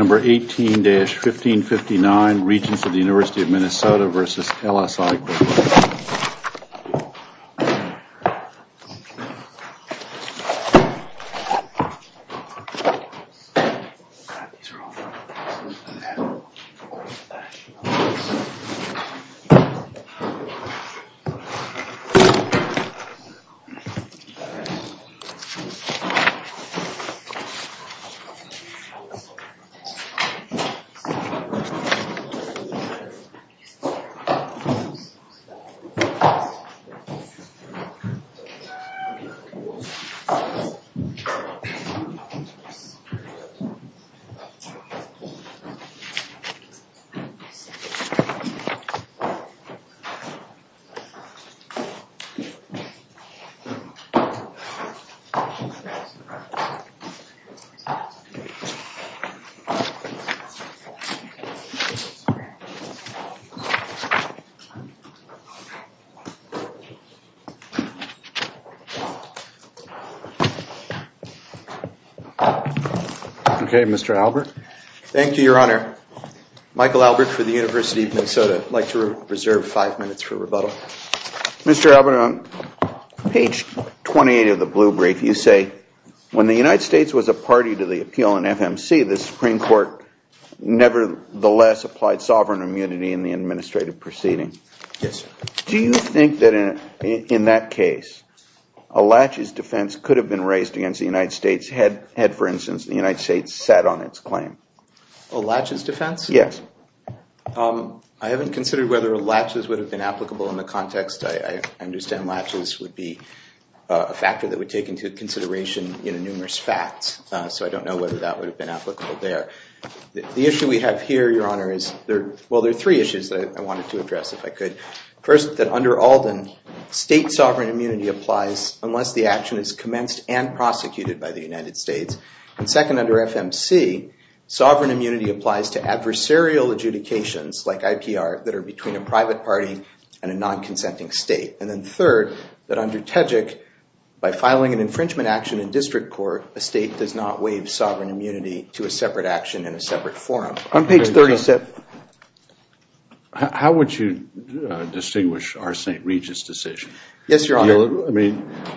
18-1559 Regents of the University of Minnesota v. LSI Corporation 18-1559 Regents of the University of Minnesota v. LSI Corporation Mr. Albert. Thank you, Your Honor. Michael Albert from the University of Minnesota. I'd like to reserve five minutes for rebuttal. Mr. Albert, on page 28 of the blue brief you say when the United States was a party to the appeal in FMC, the Supreme Court nevertheless applied sovereign immunity in the administrative proceeding. Do you think that in that case a laches defense could have been raised against the United States had, for instance, the United States sat on its claim? A laches defense? Yes. I haven't considered whether a laches would have been applicable in the context. I understand that a laches would be a factor that would take into consideration numerous facts, so I don't know whether that would have been applicable there. The issue we have here, Your Honor, is there are three issues that I wanted to address if I could. First, that under Alden, state sovereign immunity applies unless the action is commenced and prosecuted by the United States. Second, under FMC, sovereign immunity applies to adversarial adjudications like IPR that are between a private party and a non-consenting state. And then third, that under TEJIC, by filing an infringement action in district court, a state does not waive sovereign immunity to a separate action in a separate forum. How would you distinguish our St. Regis decision? Yes, Your Honor.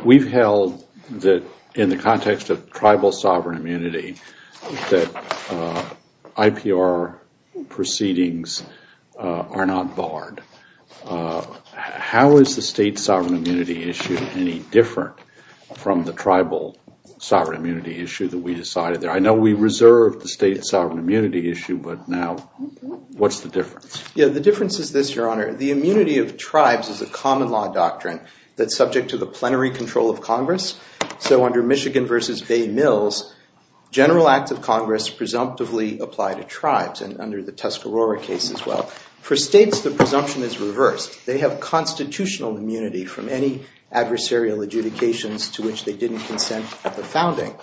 We've held that in the context of tribal sovereign immunity that IPR proceedings are not barred. How is the state sovereign immunity issue any different from the tribal sovereign immunity issue that we decided there? I know we reserved the state sovereign immunity issue, but now what's the difference? The difference is this, Your Honor. The immunity of tribes is a common law doctrine that's subject to the plenary control of Congress. So under Michigan v. Bay Mills, general acts of Congress presumptively apply to tribes, and under the Tuscarora case as well. For example, tribes do not have constitutional immunity from any adversarial adjudications to which they didn't consent at the founding.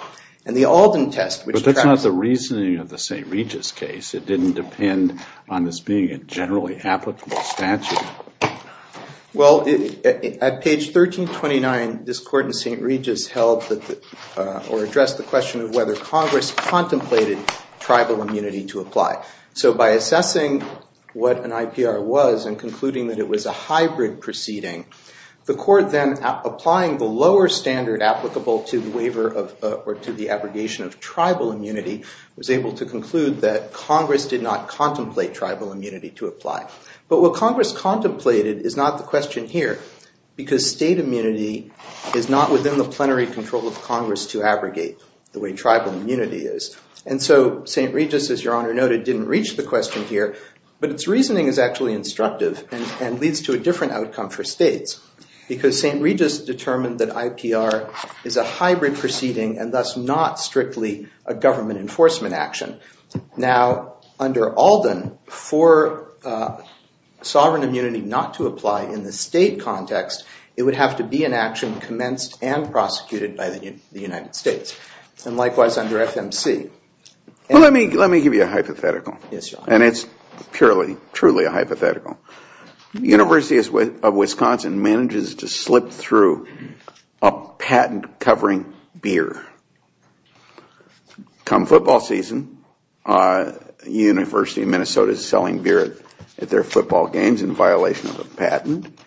And the Alden test, which- But that's not the reasoning of the St. Regis case. It didn't depend on this being a generally applicable statute. Well, at page 1329, this court in St. Regis held or addressed the question of whether Congress contemplated tribal immunity to apply. So by assessing what an IPR was and concluding that it was a hybrid proceeding, the court then applying the lower standard applicable to the waiver of or to the abrogation of tribal immunity was able to conclude that Congress did not contemplate tribal immunity to apply. But what Congress contemplated is not the question here, because state immunity is not within the plenary control of Congress to abrogate the way tribal immunity is. And so St. Regis, as Your Honor noted, didn't reach the question here. But its reasoning is actually instructive and leads to a different outcome for states, because St. Regis determined that IPR is a hybrid proceeding and thus not strictly a government enforcement action. Now, under Alden, for sovereign immunity not to apply in the state context, it would have to be an action commenced and prosecuted by the United States. And likewise under FMC. Well, let me give you a hypothetical. And it's purely, truly a hypothetical. The University of Wisconsin manages to slip through a patent covering beer. Come football season, the University of Minnesota is selling beer at their football games in violation of a patent.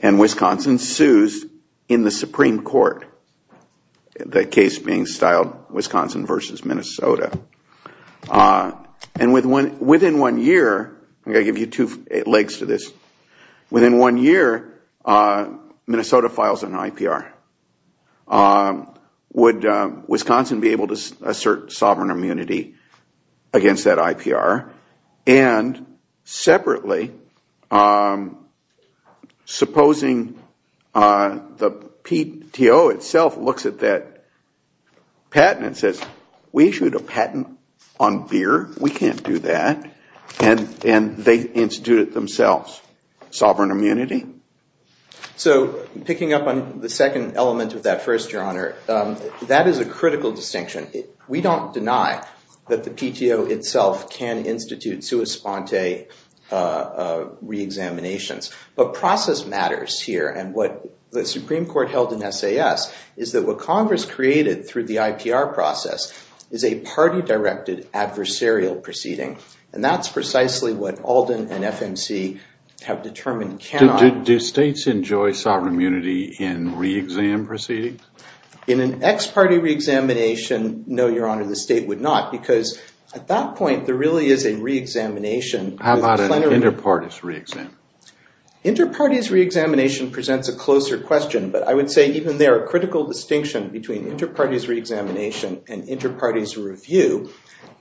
And Wisconsin sues in the Supreme Court, the case being styled Wisconsin v. Minnesota. And within one year, I'm going to give you two legs to this. Within one year, Minnesota files an IPR. Would Wisconsin be able to assert sovereign immunity against that IPR? And separately, supposing the PTO itself looks at that patent and says, we issued a patent on beer. We can't do that. And they institute it themselves. Sovereign immunity? So picking up on the second element of that first, Your Honor, that is a critical distinction. We don't deny that the PTO itself can institute sua sponte reexaminations. But process matters here. And what the Supreme Court held in SAS is that what Congress created through the reexamination process is an unconstructed adversarial proceeding. And that's precisely what Alden and FMC have determined cannot. Do states enjoy sovereign immunity in reexam proceedings? In an ex-party reexamination, no, Your Honor, the state would not. Because at that point, there really is a reexamination. How about an inter-parties reexam? Inter-parties reexamination presents a closer question. But I would say even there, a critical distinction between inter-parties reexamination and inter-parties review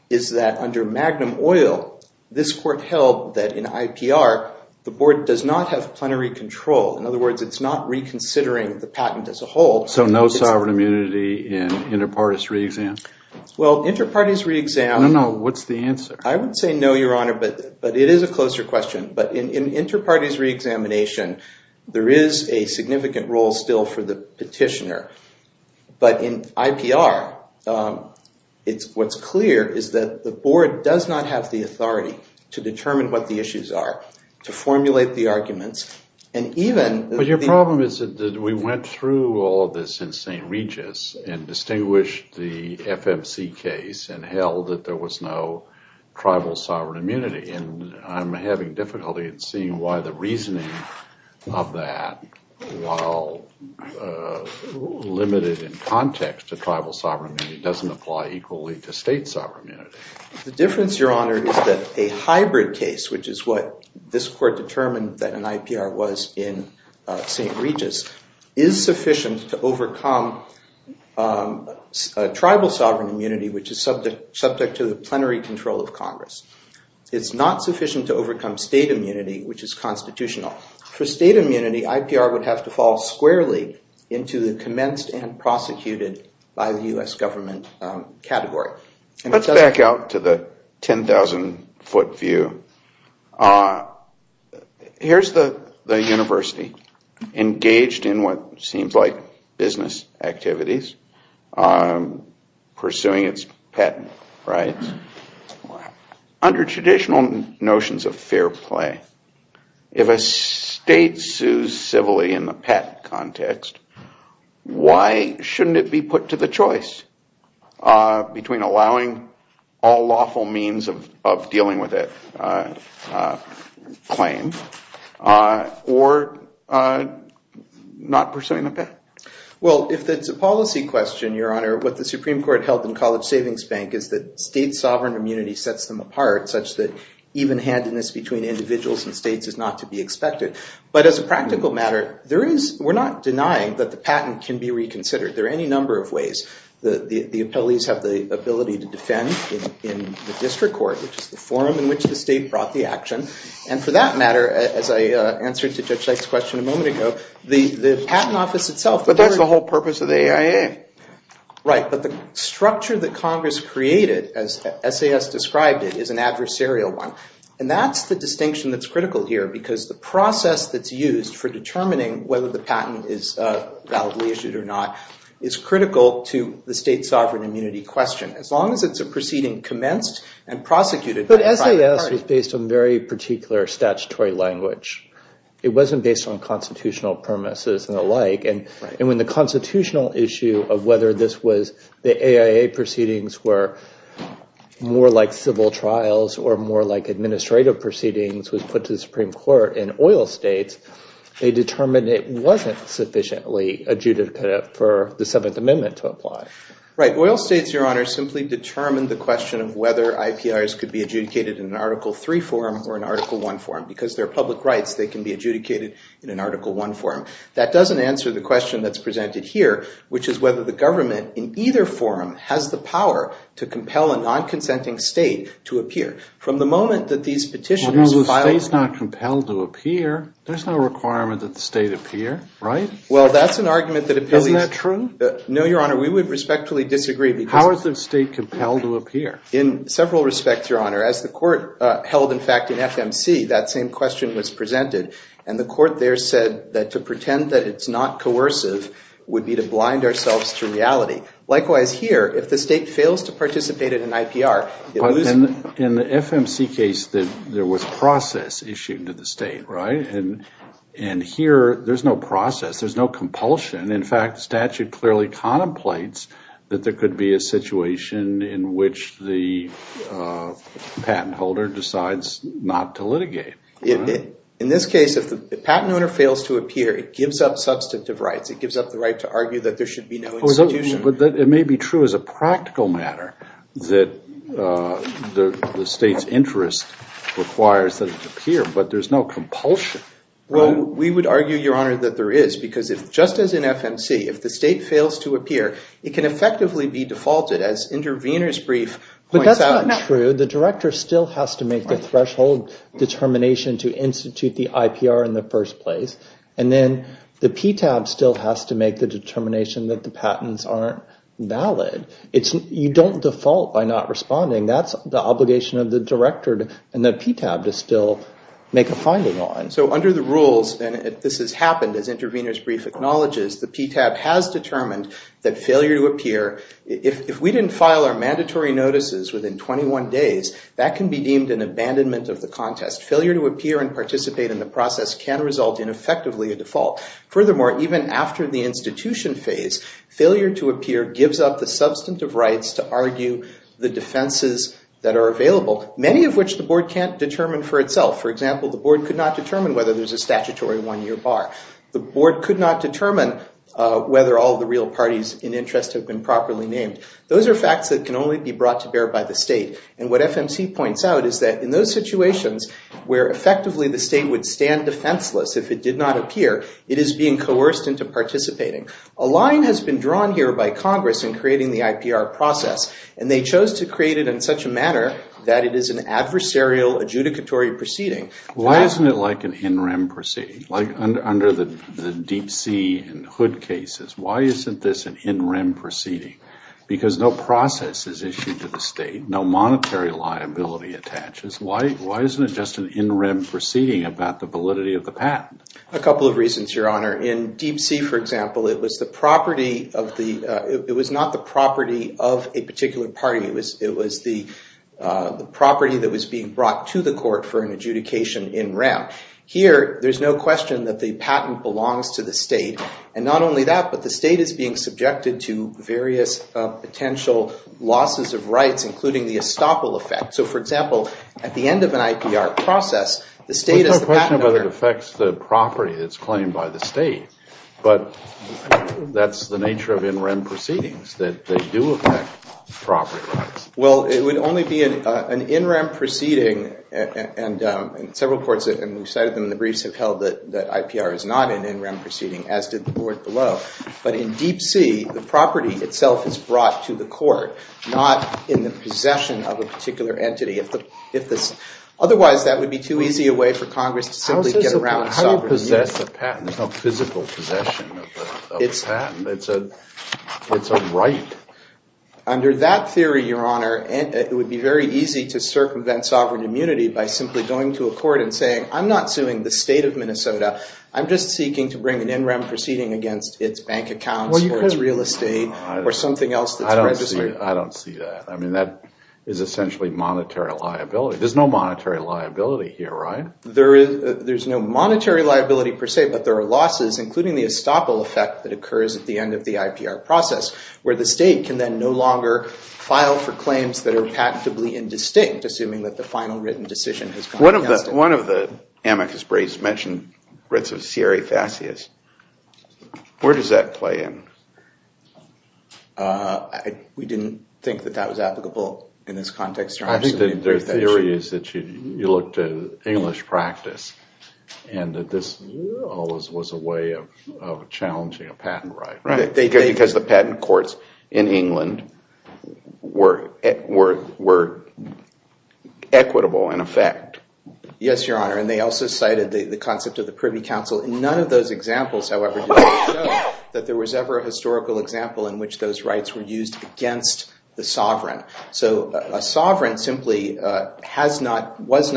is that under Magnum Oil, this court held that in IPR, the board does not have plenary control. In other words, it's not reconsidering the patent as a whole. So no sovereign immunity in inter-parties reexam? Well, inter-parties reexam. No, no. What's the answer? I would say no, Your Honor. But it is a closer question. But in inter-parties reexamination, there is a significant role still for the petitioner. But in IPR, what's clear is that the board does not have the authority to determine what the issues are, to formulate the arguments. But your problem is that we went through all of this in St. Regis and distinguished the FMC case and held that there was no tribal sovereign immunity. And I'm having difficulty in seeing why the reasoning of that, while limited in context to tribal sovereign immunity, doesn't apply equally to state sovereign immunity. The difference, Your Honor, is that a hybrid case, which is what this court determined that an IPR was in St. Regis, is sufficient to overcome tribal sovereign immunity, which is subject to the plenary control of Congress. It's not sufficient to overcome state immunity, which is constitutional. For state immunity, IPR would have to fall squarely into the commenced and prosecuted by the U.S. government category. Let's back out to the 10,000-foot view. Here's the university, engaged in what seems like business activities, pursuing its patent rights, under traditional notions of fair play. If a state sues civilly in the patent context, why shouldn't it be put to the choice between allowing all lawful means of dealing with a claim or not pursuing the patent? Well, if it's a policy question, Your Honor, what the Supreme Court held in College Savings Bank is that state discretion is not to be expected. But as a practical matter, we're not denying that the patent can be reconsidered. There are any number of ways. The appellees have the ability to defend in the district court, which is the forum in which the state brought the action. And for that matter, as I answered to Judge Sykes' question a moment ago, the patent office itself... But that's the whole purpose of the AIA. Right. But the structure that Congress created, as SAS described it, is an adversarial one. And that's the distinction that's critical here, because the process that's used for determining whether the patent is validly issued or not is critical to the state sovereign immunity question, as long as it's a proceeding commenced and prosecuted by the private party. But the AIA process was based on very particular statutory language. It wasn't based on constitutional premises and the like. And when the constitutional issue of whether this was the AIA proceedings were more like civil trials or more like administrative proceedings was put to the Supreme Court in oil states, they determined it wasn't sufficiently adjudicated for the Seventh Amendment to apply. Right. Oil states, Your Honor, simply determine the question of whether IPRs could be adjudicated in an Article III forum or an Article I forum. Because they're public rights, they can be adjudicated in an Article I forum. That doesn't answer the question that's presented here, which is whether the government in either forum has the power to compel a non-consenting state to appear. Well, the state's not compelled to appear. There's no requirement that the state appear, right? Well, that's an argument that appealed. Isn't that true? No, Your Honor, we would respectfully disagree. How is the state compelled to appear? In several respects, Your Honor, as the court held, in fact, in FMC, that same question was presented. And the court there said that to pretend that it's not coercive would be to blind ourselves to reality. Likewise here, if the state fails to participate in an IPR, it loses. But in the FMC case, there was process issued to the state, right? And here, there's no process. There's no compulsion. In fact, statute clearly contemplates that there could be a situation in which the patent holder decides not to litigate. In this case, if the patent owner fails to appear, it gives up substantive rights. It gives up the right to argue that there should be no institution. But it may be true as a practical matter that the state's interest requires that it appear. But there's no compulsion. Well, we would argue, Your Honor, that there is. Because just as in FMC, if the state fails to appear, it can effectively be defaulted as intervener's brief points out. But that's not true. The director still has to make the threshold determination to institute the IPR in the first place. And then the PTAB still has to make the determination that the patents aren't valid. You don't default by not responding. That's the obligation of the director and the PTAB to still make a finding on. So under the rules, and this has happened as intervener's brief acknowledges, the PTAB has determined that failure to appear, if we didn't file our mandatory notices within 21 days, that can be deemed an abandonment of the contest. Failure to appear and participate in the process can result in effectively a default. Furthermore, even after the institution phase, failure to appear gives up the substantive rights to argue the defenses that are available, many of which the board can't determine for itself. For example, the board could not determine whether there's a statutory one-year bar. The board could not determine whether all the real parties in interest have been properly named. Those are facts that can only be brought to bear by the state. And what FMC points out is that in those situations where effectively the state would stand defenseless if it did not appear, it is being coerced into participating. A line has been drawn here by Congress in creating the IPR process, and they chose to create it in such a manner that it is an adversarial adjudicatory proceeding. Why isn't it like an in rem proceeding? Like under the Deep Sea and Hood cases, why isn't this an in rem proceeding? Because no process is issued to the state, no monetary liability attaches. Why isn't it just an in rem proceeding about the validity of the patent? A couple of reasons, Your Honor. In Deep Sea, for example, it was not the property of a particular party. It was the property that was being brought to the court for an adjudication in rem. Here, there's no question that the patent belongs to the state. And not only that, but the state is being subjected to various potential losses of rights, including the estoppel effect. So, for example, at the end of an IPR process, the state is the patent holder. I don't know whether it affects the property that's claimed by the state, but that's the nature of in rem proceedings, that they do affect property rights. Well, it would only be an in rem proceeding, and several courts, and we've cited them in the briefs, have held that IPR is not an in rem proceeding, as did the Court below. But in Deep Sea, the property itself is brought to the court, not in the possession of a particular entity. Otherwise, that would be too easy a way for Congress to simply get around sovereign immunity. How do you possess a patent? There's no physical possession of a patent. It's a right. Under that theory, Your Honor, it would be very easy to circumvent sovereign immunity by simply going to a court and saying, I'm not suing the state of Minnesota. I'm just seeking to bring an in rem proceeding against its bank accounts or its real estate or something else that's registered. I don't see that. I mean, that is essentially monetary liability. There's no monetary liability here, right? There's no monetary liability per se, but there are losses, including the estoppel effect that occurs at the end of the IPR process, where the state can then no longer file for claims that are patently indistinct, One of the amicus brevis mentioned writs of Siri Fascius. Where does that play in? We didn't think that that was applicable in this context, Your Honor. I think that their theory is that you looked at English practice and that this was a way of challenging a patent right. Because the patent courts in England were equitable in effect. Yes, Your Honor. And they also cited the concept of the Privy Council. None of those examples, however, show that there was ever a historical example in which those rights were used against the sovereign. So a sovereign simply was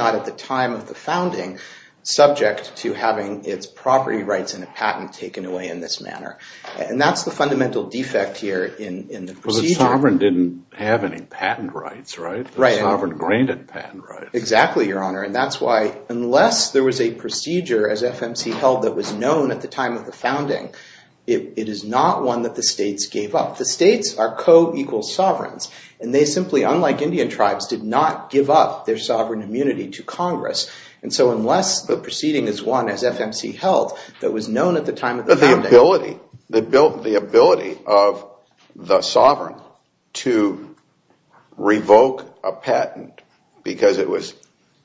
not at the time of the founding subject to having its property rights in a patent taken away in this manner. And that's the fundamental defect here in the procedure. The sovereign didn't have any patent rights, right? Exactly, Your Honor. And that's why unless there was a procedure as FMC held that was known at the time of the founding, it is not one that the states gave up. The states are co-equal sovereigns. And they simply, unlike Indian tribes, did not give up their sovereign immunity to Congress. And so unless the proceeding is one, as FMC held, that was known at the time of the founding. But the ability, the ability of the sovereign to revoke a patent because it was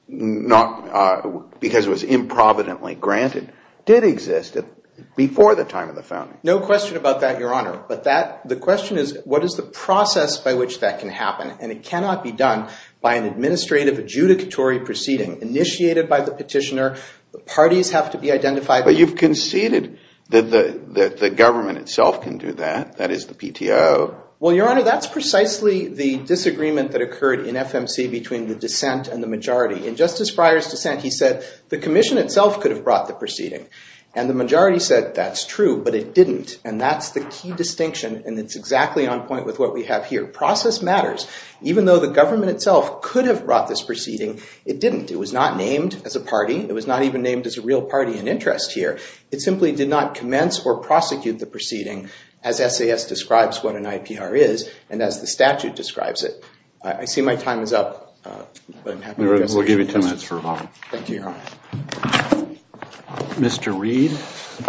not, because it was improvidently granted did exist before the time of the founding. No question about that, Your Honor. But that, the question is, what is the process by which that can happen? And it cannot be done by an administrative adjudicatory proceeding initiated by the petitioner. The parties have to be identified. But you've conceded that the government itself can do that, that is the PTO. Well, Your Honor, that's precisely the disagreement that occurred in FMC between the dissent and the majority. In Justice Breyer's dissent, he said the commission itself could have brought the proceeding. And the majority said that's true, but it didn't. And that's the key distinction, and it's exactly on point with what we have here. Process matters. Even though the government itself could have brought this proceeding, it didn't. It was not named as a party. It was not even named as a real party in interest here. It simply did not commence or prosecute the proceeding as SAS describes what an IPR is and as the statute describes it. I see my time is up. We'll give you 10 minutes for rebuttal. Thank you, Your Honor. Mr. Reed. Good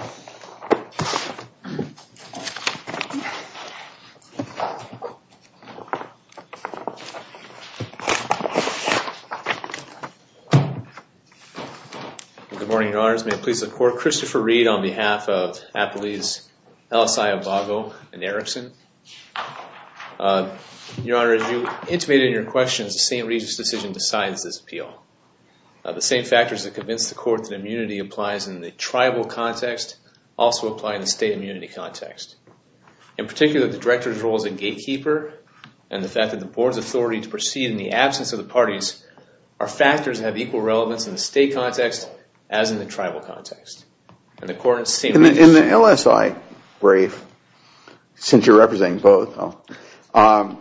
morning, Your Honors. May it please the Court. Christopher Reed on behalf of Appellees LSI Abago and Erickson. Your Honor, as you intimated in your questions, the St. Regis decision decides this appeal. The same factors that convince the Court that immunity applies in the tribal context also apply in the state immunity context. In particular, the Director's role as a gatekeeper and the fact that the Board's authority to proceed in the absence of the parties are factors that have equal relevance in the state context as in the tribal context. In the LSI brief, since you're representing both, on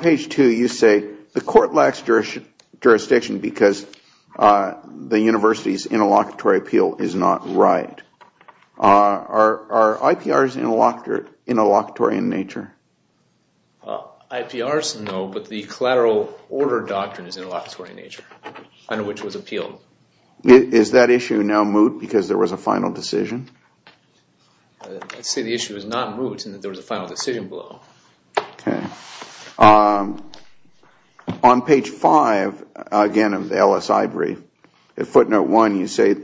page two you say the Court lacks jurisdiction because the University's interlocutory appeal is not right. Are IPRs interlocutory in nature? IPRs, no, but the collateral order doctrine is interlocutory in nature, under which it was appealed. Is that issue now moot because there was a final decision? I'd say the issue is not moot in that there was a final decision below. Okay. On page five, again, of the LSI brief, footnote one, you say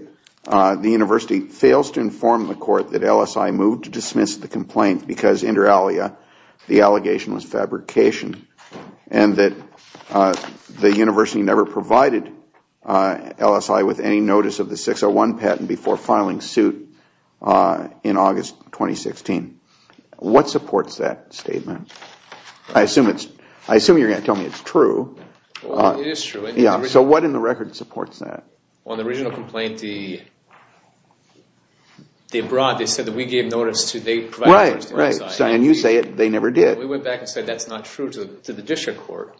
the University fails to inform the Court that LSI moved to dismiss the complaint because, inter alia, the allegation was fabrication and that the University never provided LSI with any notice of the 601 patent before filing suit in August 2016. What supports that statement? I assume you're going to tell me it's true. It is true. So what in the record supports that? On the original complaint they brought, they said that we gave notice to LSI. Right, and you say they never did. We went back and said that's not true to the district court.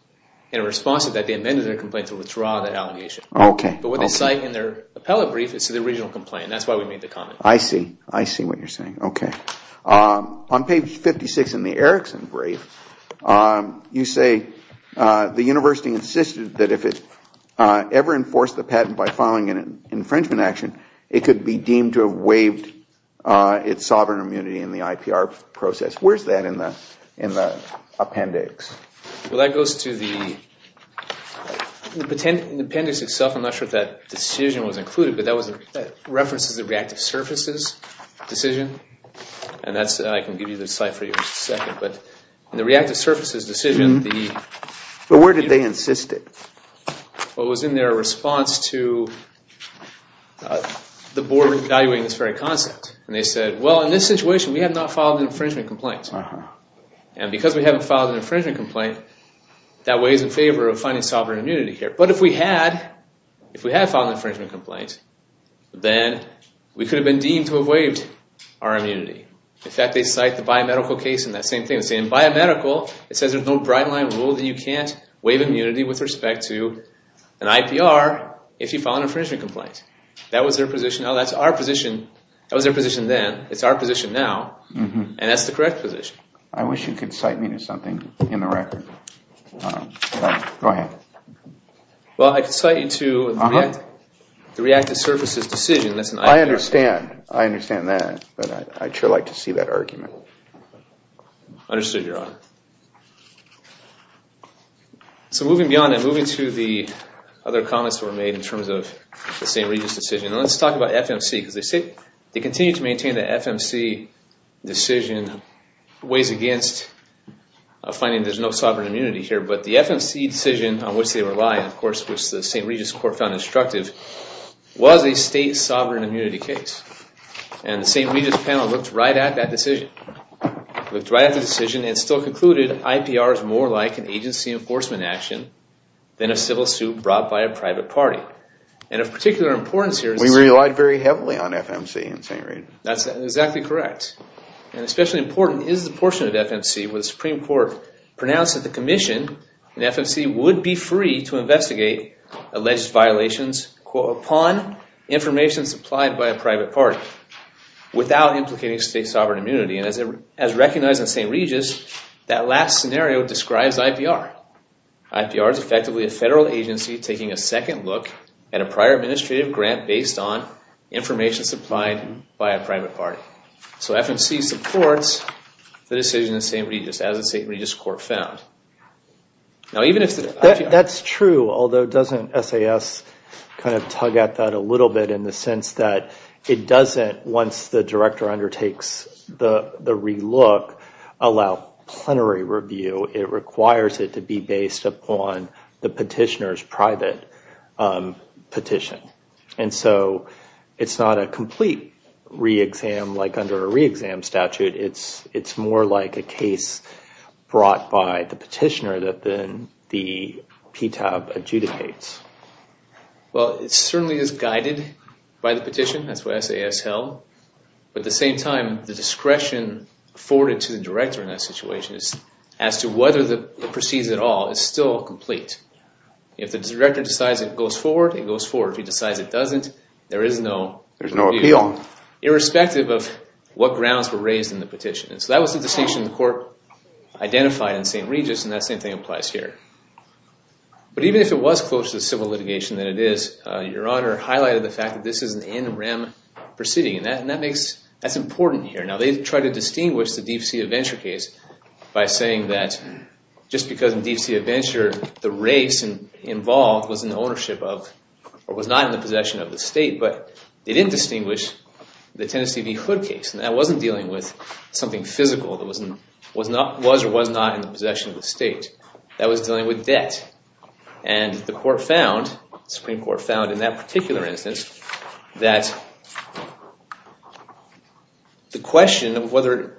In response to that, they amended their complaint to withdraw the allegation. Okay. But what they cite in their appellate brief is to the original complaint. That's why we made the comment. I see. I see what you're saying. Okay. On page 56 in the Erickson brief, you say the University insisted that if it ever enforced the patent by filing an infringement action, it could be deemed to have waived its sovereign immunity in the IPR process. Where's that in the appendix? Well, that goes to the appendix itself. I'm not sure if that decision was included, but that references the reactive surfaces decision. And I can give you the cite for you in just a second. But in the reactive surfaces decision, the… But where did they insist it? Well, it was in their response to the board evaluating this very concept. And they said, well, in this situation, we have not filed an infringement complaint. And because we haven't filed an infringement complaint, that weighs in favor of finding sovereign immunity here. But if we had, if we had filed an infringement complaint, then we could have been deemed to have waived our immunity. In fact, they cite the biomedical case in that same thing. They say in biomedical, it says there's no bright line rule that you can't waive immunity with respect to an IPR if you file an infringement complaint. That was their position. That was their position then. It's our position now. And that's the correct position. I wish you could cite me to something in the record. Go ahead. Well, I could cite you to the reactive surfaces decision. I understand. I understand that. But I'd sure like to see that argument. Understood, Your Honor. So moving beyond that, moving to the other comments that were made in terms of the St. Regis decision. And let's talk about FMC because they continue to maintain the FMC decision weighs against finding there's no sovereign immunity here. But the FMC decision on which they rely, of course, which the St. Regis court found instructive, was a state sovereign immunity case. And the St. Regis panel looked right at that decision, looked right at the decision and still concluded IPR is more like an agency enforcement action than a civil suit brought by a private party. And of particular importance here is that. We relied very heavily on FMC in St. Regis. That's exactly correct. And especially important is the portion of FMC where the Supreme Court pronounced that the commission in FMC would be free to investigate alleged violations, quote, upon information supplied by a private party without implicating state sovereign immunity. And as recognized in St. Regis, that last scenario describes IPR. IPR is effectively a federal agency taking a second look at a prior administrative grant based on information supplied by a private party. So FMC supports the decision in St. Regis as the St. Regis court found. Now, even if the IPR. That's true, although doesn't SAS kind of tug at that a little bit in the sense that it doesn't, once the director undertakes the relook, allow plenary review. It requires it to be based upon the petitioner's private petition. And so it's not a complete re-exam like under a re-exam statute. It's more like a case brought by the petitioner than the PTAB adjudicates. Well, it certainly is guided by the petition. That's what SAS held. But at the same time, the discretion forwarded to the director in that situation as to whether it proceeds at all is still complete. If the director decides it goes forward, it goes forward. If he decides it doesn't, there is no review. There's no appeal. Irrespective of what grounds were raised in the petition. And so that was the distinction the court identified in St. Regis, and that same thing applies here. But even if it was closer to civil litigation than it is, Your Honor highlighted the fact that this is an NREM proceeding. And that's important here. Now, they tried to distinguish the Deep Sea Adventure case by saying that just because in Deep Sea Adventure the race involved was not in the possession of the state. But they didn't distinguish the Tennessee v. Hood case. And that wasn't dealing with something physical that was or was not in the possession of the state. That was dealing with debt. And the Supreme Court found in that particular instance that the question of whether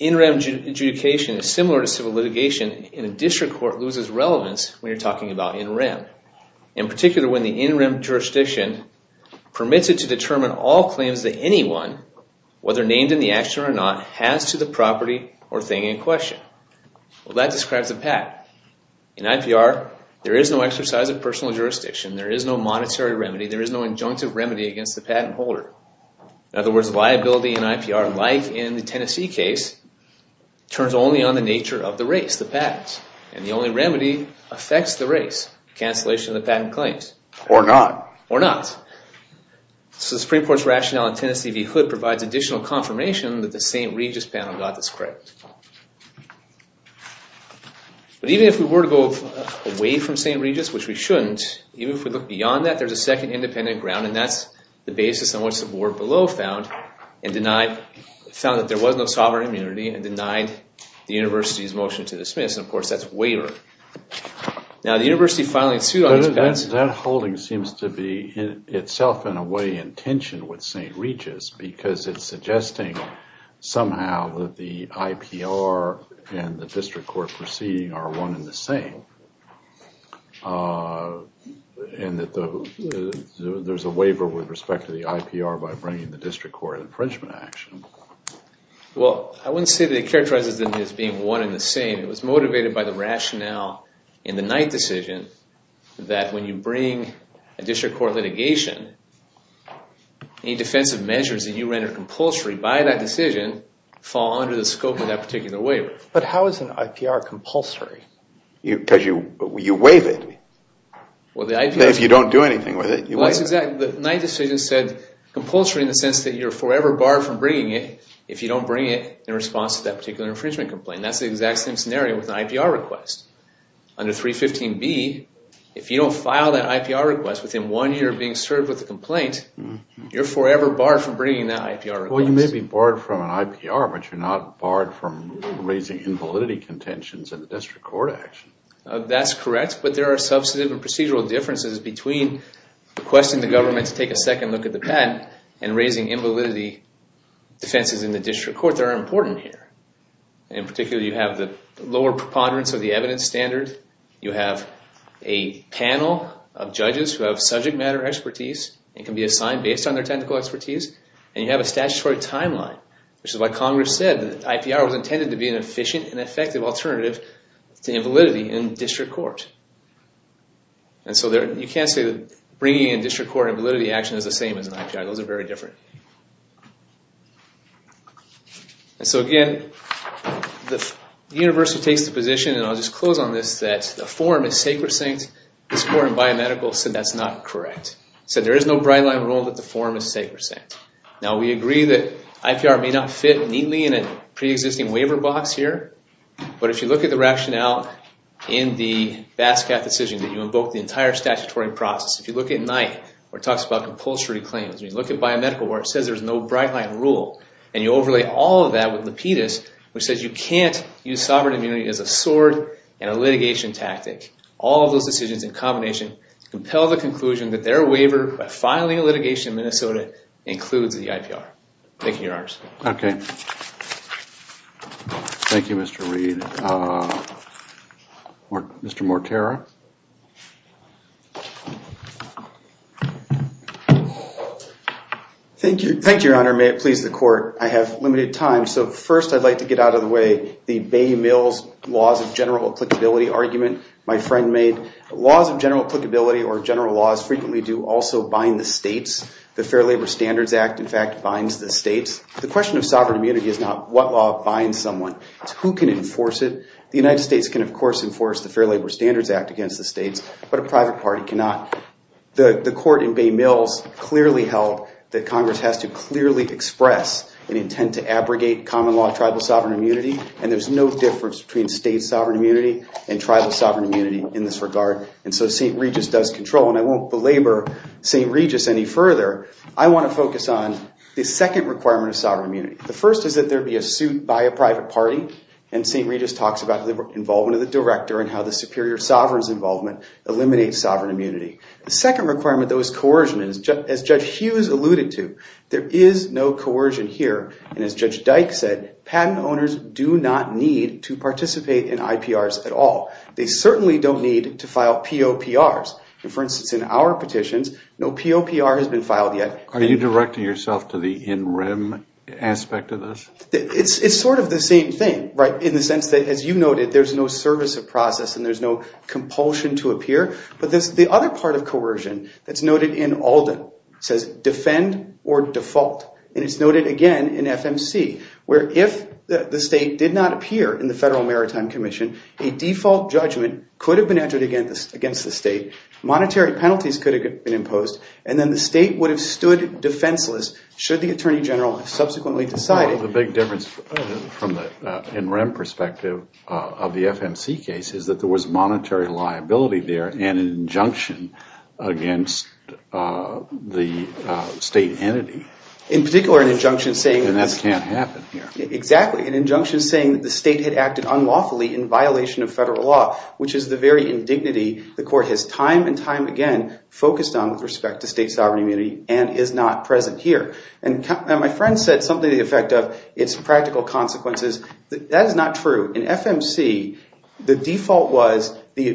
NREM adjudication is similar to civil litigation in a district court loses relevance when you're talking about NREM. In particular, when the NREM jurisdiction permits it to determine all claims that anyone, whether named in the action or not, has to the property or thing in question. Well, that describes the patent. In IPR, there is no exercise of personal jurisdiction. There is no monetary remedy. There is no injunctive remedy against the patent holder. In other words, liability in IPR, like in the Tennessee case, turns only on the nature of the race, the patents. And the only remedy affects the race, cancellation of the patent claims. Or not. Or not. So the Supreme Court's rationale in Tennessee v. Hood provides additional confirmation that the St. Regis panel got this correct. But even if we were to go away from St. Regis, which we shouldn't, even if we look beyond that, there's a second independent ground. And that's the basis on which the board below found and denied, found that there was no sovereign immunity and denied the university's motion to dismiss. And, of course, that's waiver. Now, the university finally sued on these patents. That holding seems to be itself, in a way, in tension with St. Regis because it's suggesting somehow that the IPR and the district court proceeding are one and the same. And that there's a waiver with respect to the IPR by bringing the district court infringement action. Well, I wouldn't say that it characterizes them as being one and the same. It was motivated by the rationale in the Knight decision that when you bring a district court litigation, any defensive measures that you render compulsory by that decision fall under the scope of that particular waiver. But how is an IPR compulsory? Because you waive it. Well, the IPR... If you don't do anything with it, you waive it. The Knight decision said compulsory in the sense that you're forever barred from bringing it if you don't bring it in response to that particular infringement complaint. That's the exact same scenario with an IPR request. Under 315B, if you don't file that IPR request within one year of being served with a complaint, you're forever barred from bringing that IPR request. Well, you may be barred from an IPR, but you're not barred from raising invalidity contentions in the district court action. That's correct, but there are substantive and procedural differences between requesting the government to take a second look at the patent and raising invalidity defenses in the district court that are important here. In particular, you have the lower preponderance of the evidence standard. You have a panel of judges who have subject matter expertise and can be assigned based on their technical expertise. And you have a statutory timeline, which is why Congress said the IPR was intended to be an efficient and effective alternative to invalidity in district court. And so you can't say that bringing in district court invalidity action is the same as an IPR. Those are very different. And so, again, the university takes the position, and I'll just close on this, that the forum is sacrosanct. This court in biomedical said that's not correct. Said there is no bright-line rule that the forum is sacrosanct. Now, we agree that IPR may not fit neatly in a pre-existing waiver box here, but if you look at the rationale in the BASCAT decision that you invoke the entire statutory process, if you look at NYE, where it talks about compulsory claims, if you look at biomedical where it says there's no bright-line rule, and you overlay all of that with Lapidus, which says you can't use sovereign immunity as a sword and a litigation tactic, all of those decisions in combination compel the conclusion that their waiver by filing a litigation in Minnesota includes the IPR. Thank you, Your Honors. Okay. Thank you, Mr. Reed. Mr. Mortera? Thank you, Your Honor. May it please the court, I have limited time, so first I'd like to get out of the way the Bay Mills laws of general applicability argument. My friend made laws of general applicability or general laws frequently do also bind the states. The Fair Labor Standards Act, in fact, binds the states. The question of sovereign immunity is not what law binds someone. It's who can enforce it. The United States can, of course, enforce the Fair Labor Standards Act against the states, but a private party cannot. The court in Bay Mills clearly held that Congress has to clearly express an intent to abrogate common law tribal sovereign immunity, and there's no difference between state sovereign immunity and tribal sovereign immunity in this regard, and so St. Regis does control, and I won't belabor St. Regis any further. I want to focus on the second requirement of sovereign immunity. The first is that there be a suit by a private party, and St. Regis talks about the involvement of the director and how the superior sovereign's involvement eliminates sovereign immunity. The second requirement, though, is coercion, and as Judge Hughes alluded to, there is no coercion here, and as Judge Dyke said, patent owners do not need to participate in IPRs at all. They certainly don't need to file POPRs, and for instance, in our petitions, no POPR has been filed yet. Are you directing yourself to the in rem aspect of this? It's sort of the same thing, right, in the sense that, as you noted, there's no service of process and there's no compulsion to appear, but there's the other part of coercion that's noted in Alden. It says defend or default, and it's noted again in FMC, where if the state did not appear in the Federal Maritime Commission, a default judgment could have been entered against the state, monetary penalties could have been imposed, and then the state would have stood defenseless should the attorney general have subsequently decided. The big difference from the in rem perspective of the FMC case is that there was monetary liability there and an injunction against the state entity, and that can't happen here. Exactly, an injunction saying that the state had acted unlawfully in violation of federal law, which is the very indignity the court has time and time again focused on with respect to state sovereign immunity and is not present here. And my friend said something to the effect of it's practical consequences. That is not true. In FMC, the default was the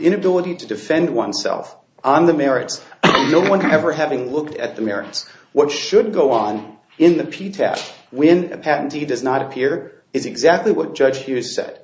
inability to defend oneself on the merits, no one ever having looked at the merits. What should go on in the PTAB when a patentee does not appear is exactly what Judge Hughes said.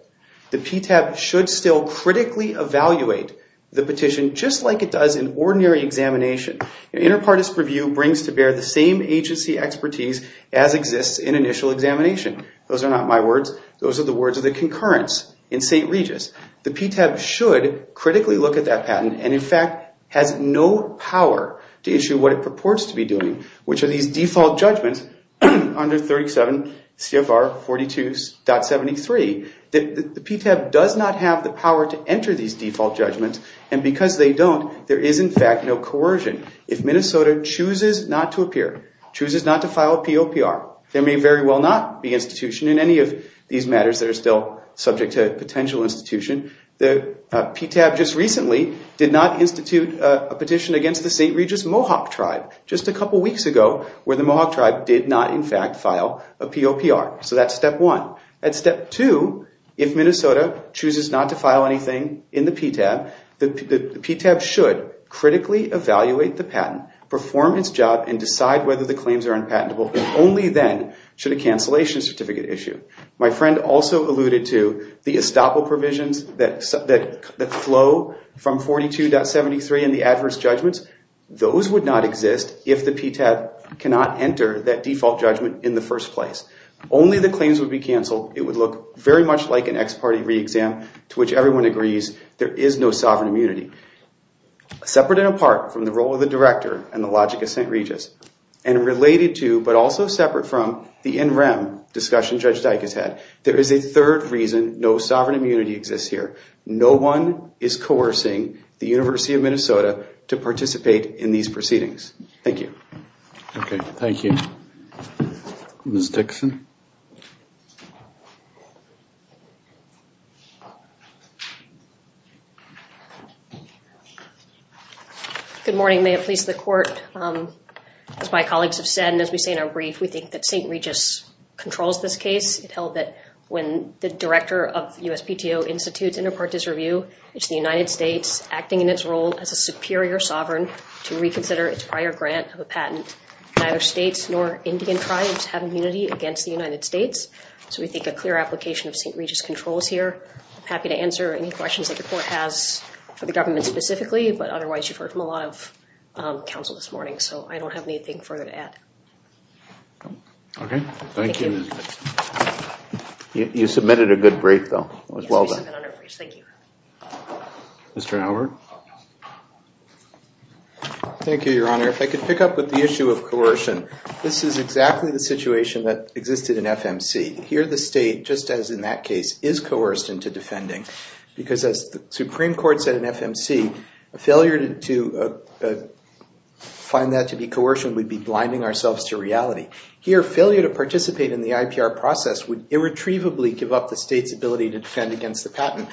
The PTAB should still critically evaluate the petition just like it does in ordinary examination. Interpartist review brings to bear the same agency expertise as exists in initial examination. Those are not my words, those are the words of the concurrence in St. Regis. The PTAB should critically look at that patent and in fact has no power to issue what it purports to be doing, which are these default judgments under 37 CFR 42.73. The PTAB does not have the power to enter these default judgments and because they don't, there is in fact no coercion. If Minnesota chooses not to appear, chooses not to file a POPR, there may very well not be institution in any of these matters that are still subject to potential institution. The PTAB just recently did not institute a petition against the St. Regis Mohawk tribe just a couple weeks ago where the Mohawk tribe did not in fact file a POPR. So that's step one. At step two, if Minnesota chooses not to file anything in the PTAB, the PTAB should critically evaluate the patent, perform its job, and decide whether the claims are unpatentable. Only then should a cancellation certificate issue. My friend also alluded to the estoppel provisions that flow from 42.73 and the adverse judgments. Those would not exist if the PTAB cannot enter that default judgment in the first place. Only the claims would be canceled. It would look very much like an ex-party re-exam to which everyone agrees there is no sovereign immunity. Separate and apart from the role of the director and the logic of St. Regis, and related to but also separate from the NREM discussion Judge Dyke has had, there is a third reason no sovereign immunity exists here. No one is coercing the University of Minnesota to participate in these proceedings. Thank you. Okay, thank you. Ms. Dixon. Good morning. May it please the court, as my colleagues have said, and as we say in our brief, we think that St. Regis controls this case. It held that when the director of USPTO institutes inter partes review, it's the United States acting in its role as a superior sovereign to reconsider its prior grant of a patent. Neither states nor Indian tribes have immunity against the United States, so we think a clear application of St. Regis controls here. I'm happy to answer any questions that the court has for the government specifically, but otherwise you've heard from a lot of counsel this morning, so I don't have anything further to add. Okay, thank you. You submitted a good brief, though. It was well done. Thank you. Mr. Howard. Thank you, Your Honor. If I could pick up with the issue of coercion. This is exactly the situation that existed in FMC. Here the state, just as in that case, is coerced into defending, because as the Supreme Court said in FMC, a failure to find that to be coercion would be blinding ourselves to reality. Here failure to participate in the IPR process would irretrievably give up the state's ability to defend against the patent.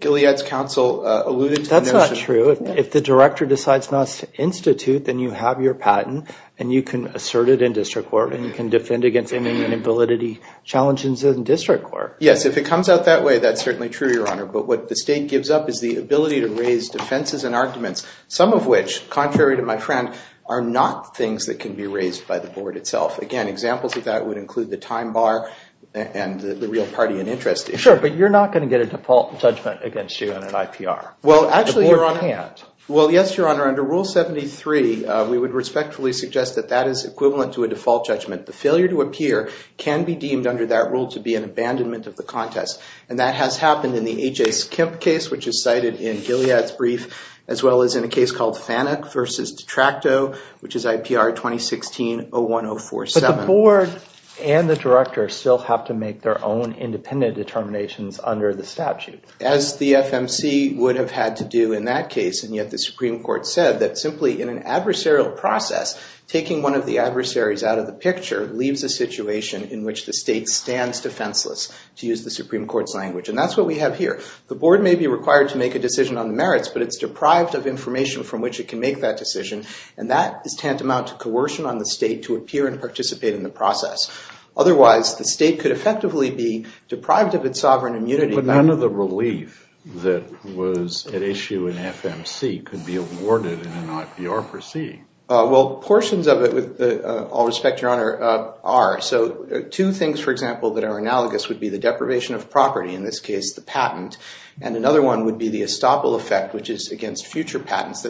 Gilead's counsel alluded to the notion. That's not true. If the director decides not to institute, then you have your patent, and you can assert it in district court, and you can defend against any inability challenges in district court. Yes, if it comes out that way, that's certainly true, Your Honor. But what the state gives up is the ability to raise defenses and arguments, some of which, contrary to my friend, are not things that can be raised by the board itself. Again, examples of that would include the time bar and the real party in interest issue. Sure, but you're not going to get a default judgment against you in an IPR. Well, actually, Your Honor. The board can't. Well, yes, Your Honor. Under Rule 73, we would respectfully suggest that that is equivalent to a default judgment. The failure to appear can be deemed under that rule to be an abandonment of the contest, and that has happened in the A.J. Skimp case, which is cited in Gilead's brief, as well as in a case called FANUC v. Detracto, which is IPR 2016-01047. But the board and the director still have to make their own independent determinations under the statute. As the FMC would have had to do in that case, and yet the Supreme Court said that simply in an adversarial process, taking one of the adversaries out of the picture leaves a situation in which the state stands defenseless to use the Supreme Court's language, and that's what we have here. The board may be required to make a decision on the merits, but it's deprived of information from which it can make that decision, and that is tantamount to coercion on the state to appear and participate in the process. Otherwise, the state could effectively be deprived of its sovereign immunity. But none of the relief that was at issue in FMC could be awarded in an IPR proceeding. Well, portions of it, with all respect, Your Honor, are. So two things, for example, that are analogous would be the deprivation of property, in this case the patent, and another one would be the estoppel effect, which is against future patents.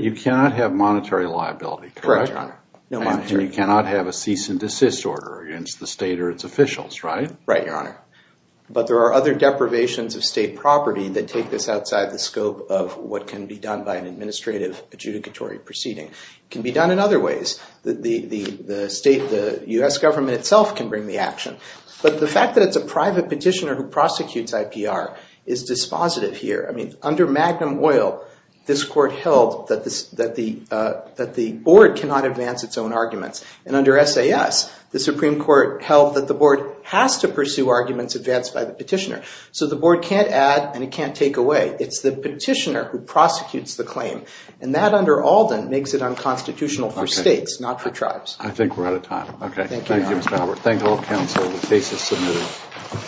You cannot have monetary liability, correct? Correct, Your Honor. No monetary. And you cannot have a cease and desist order against the state or its officials, right? Right, Your Honor. But there are other deprivations of state property that take this outside the scope of what can be done by an administrative adjudicatory proceeding. It can be done in other ways. The state, the U.S. government itself can bring the action. But the fact that it's a private petitioner who prosecutes IPR is dispositive here. I mean, under Magnum Oil, this court held that the board cannot advance its own arguments. And under SAS, the Supreme Court held that the board has to pursue arguments advanced by the petitioner. So the board can't add and it can't take away. It's the petitioner who prosecutes the claim. And that under Alden makes it unconstitutional for states, not for tribes. I think we're out of time. Thank you, Your Honor. Thank you, Mr. Howard. Thank all counsel. The case is submitted.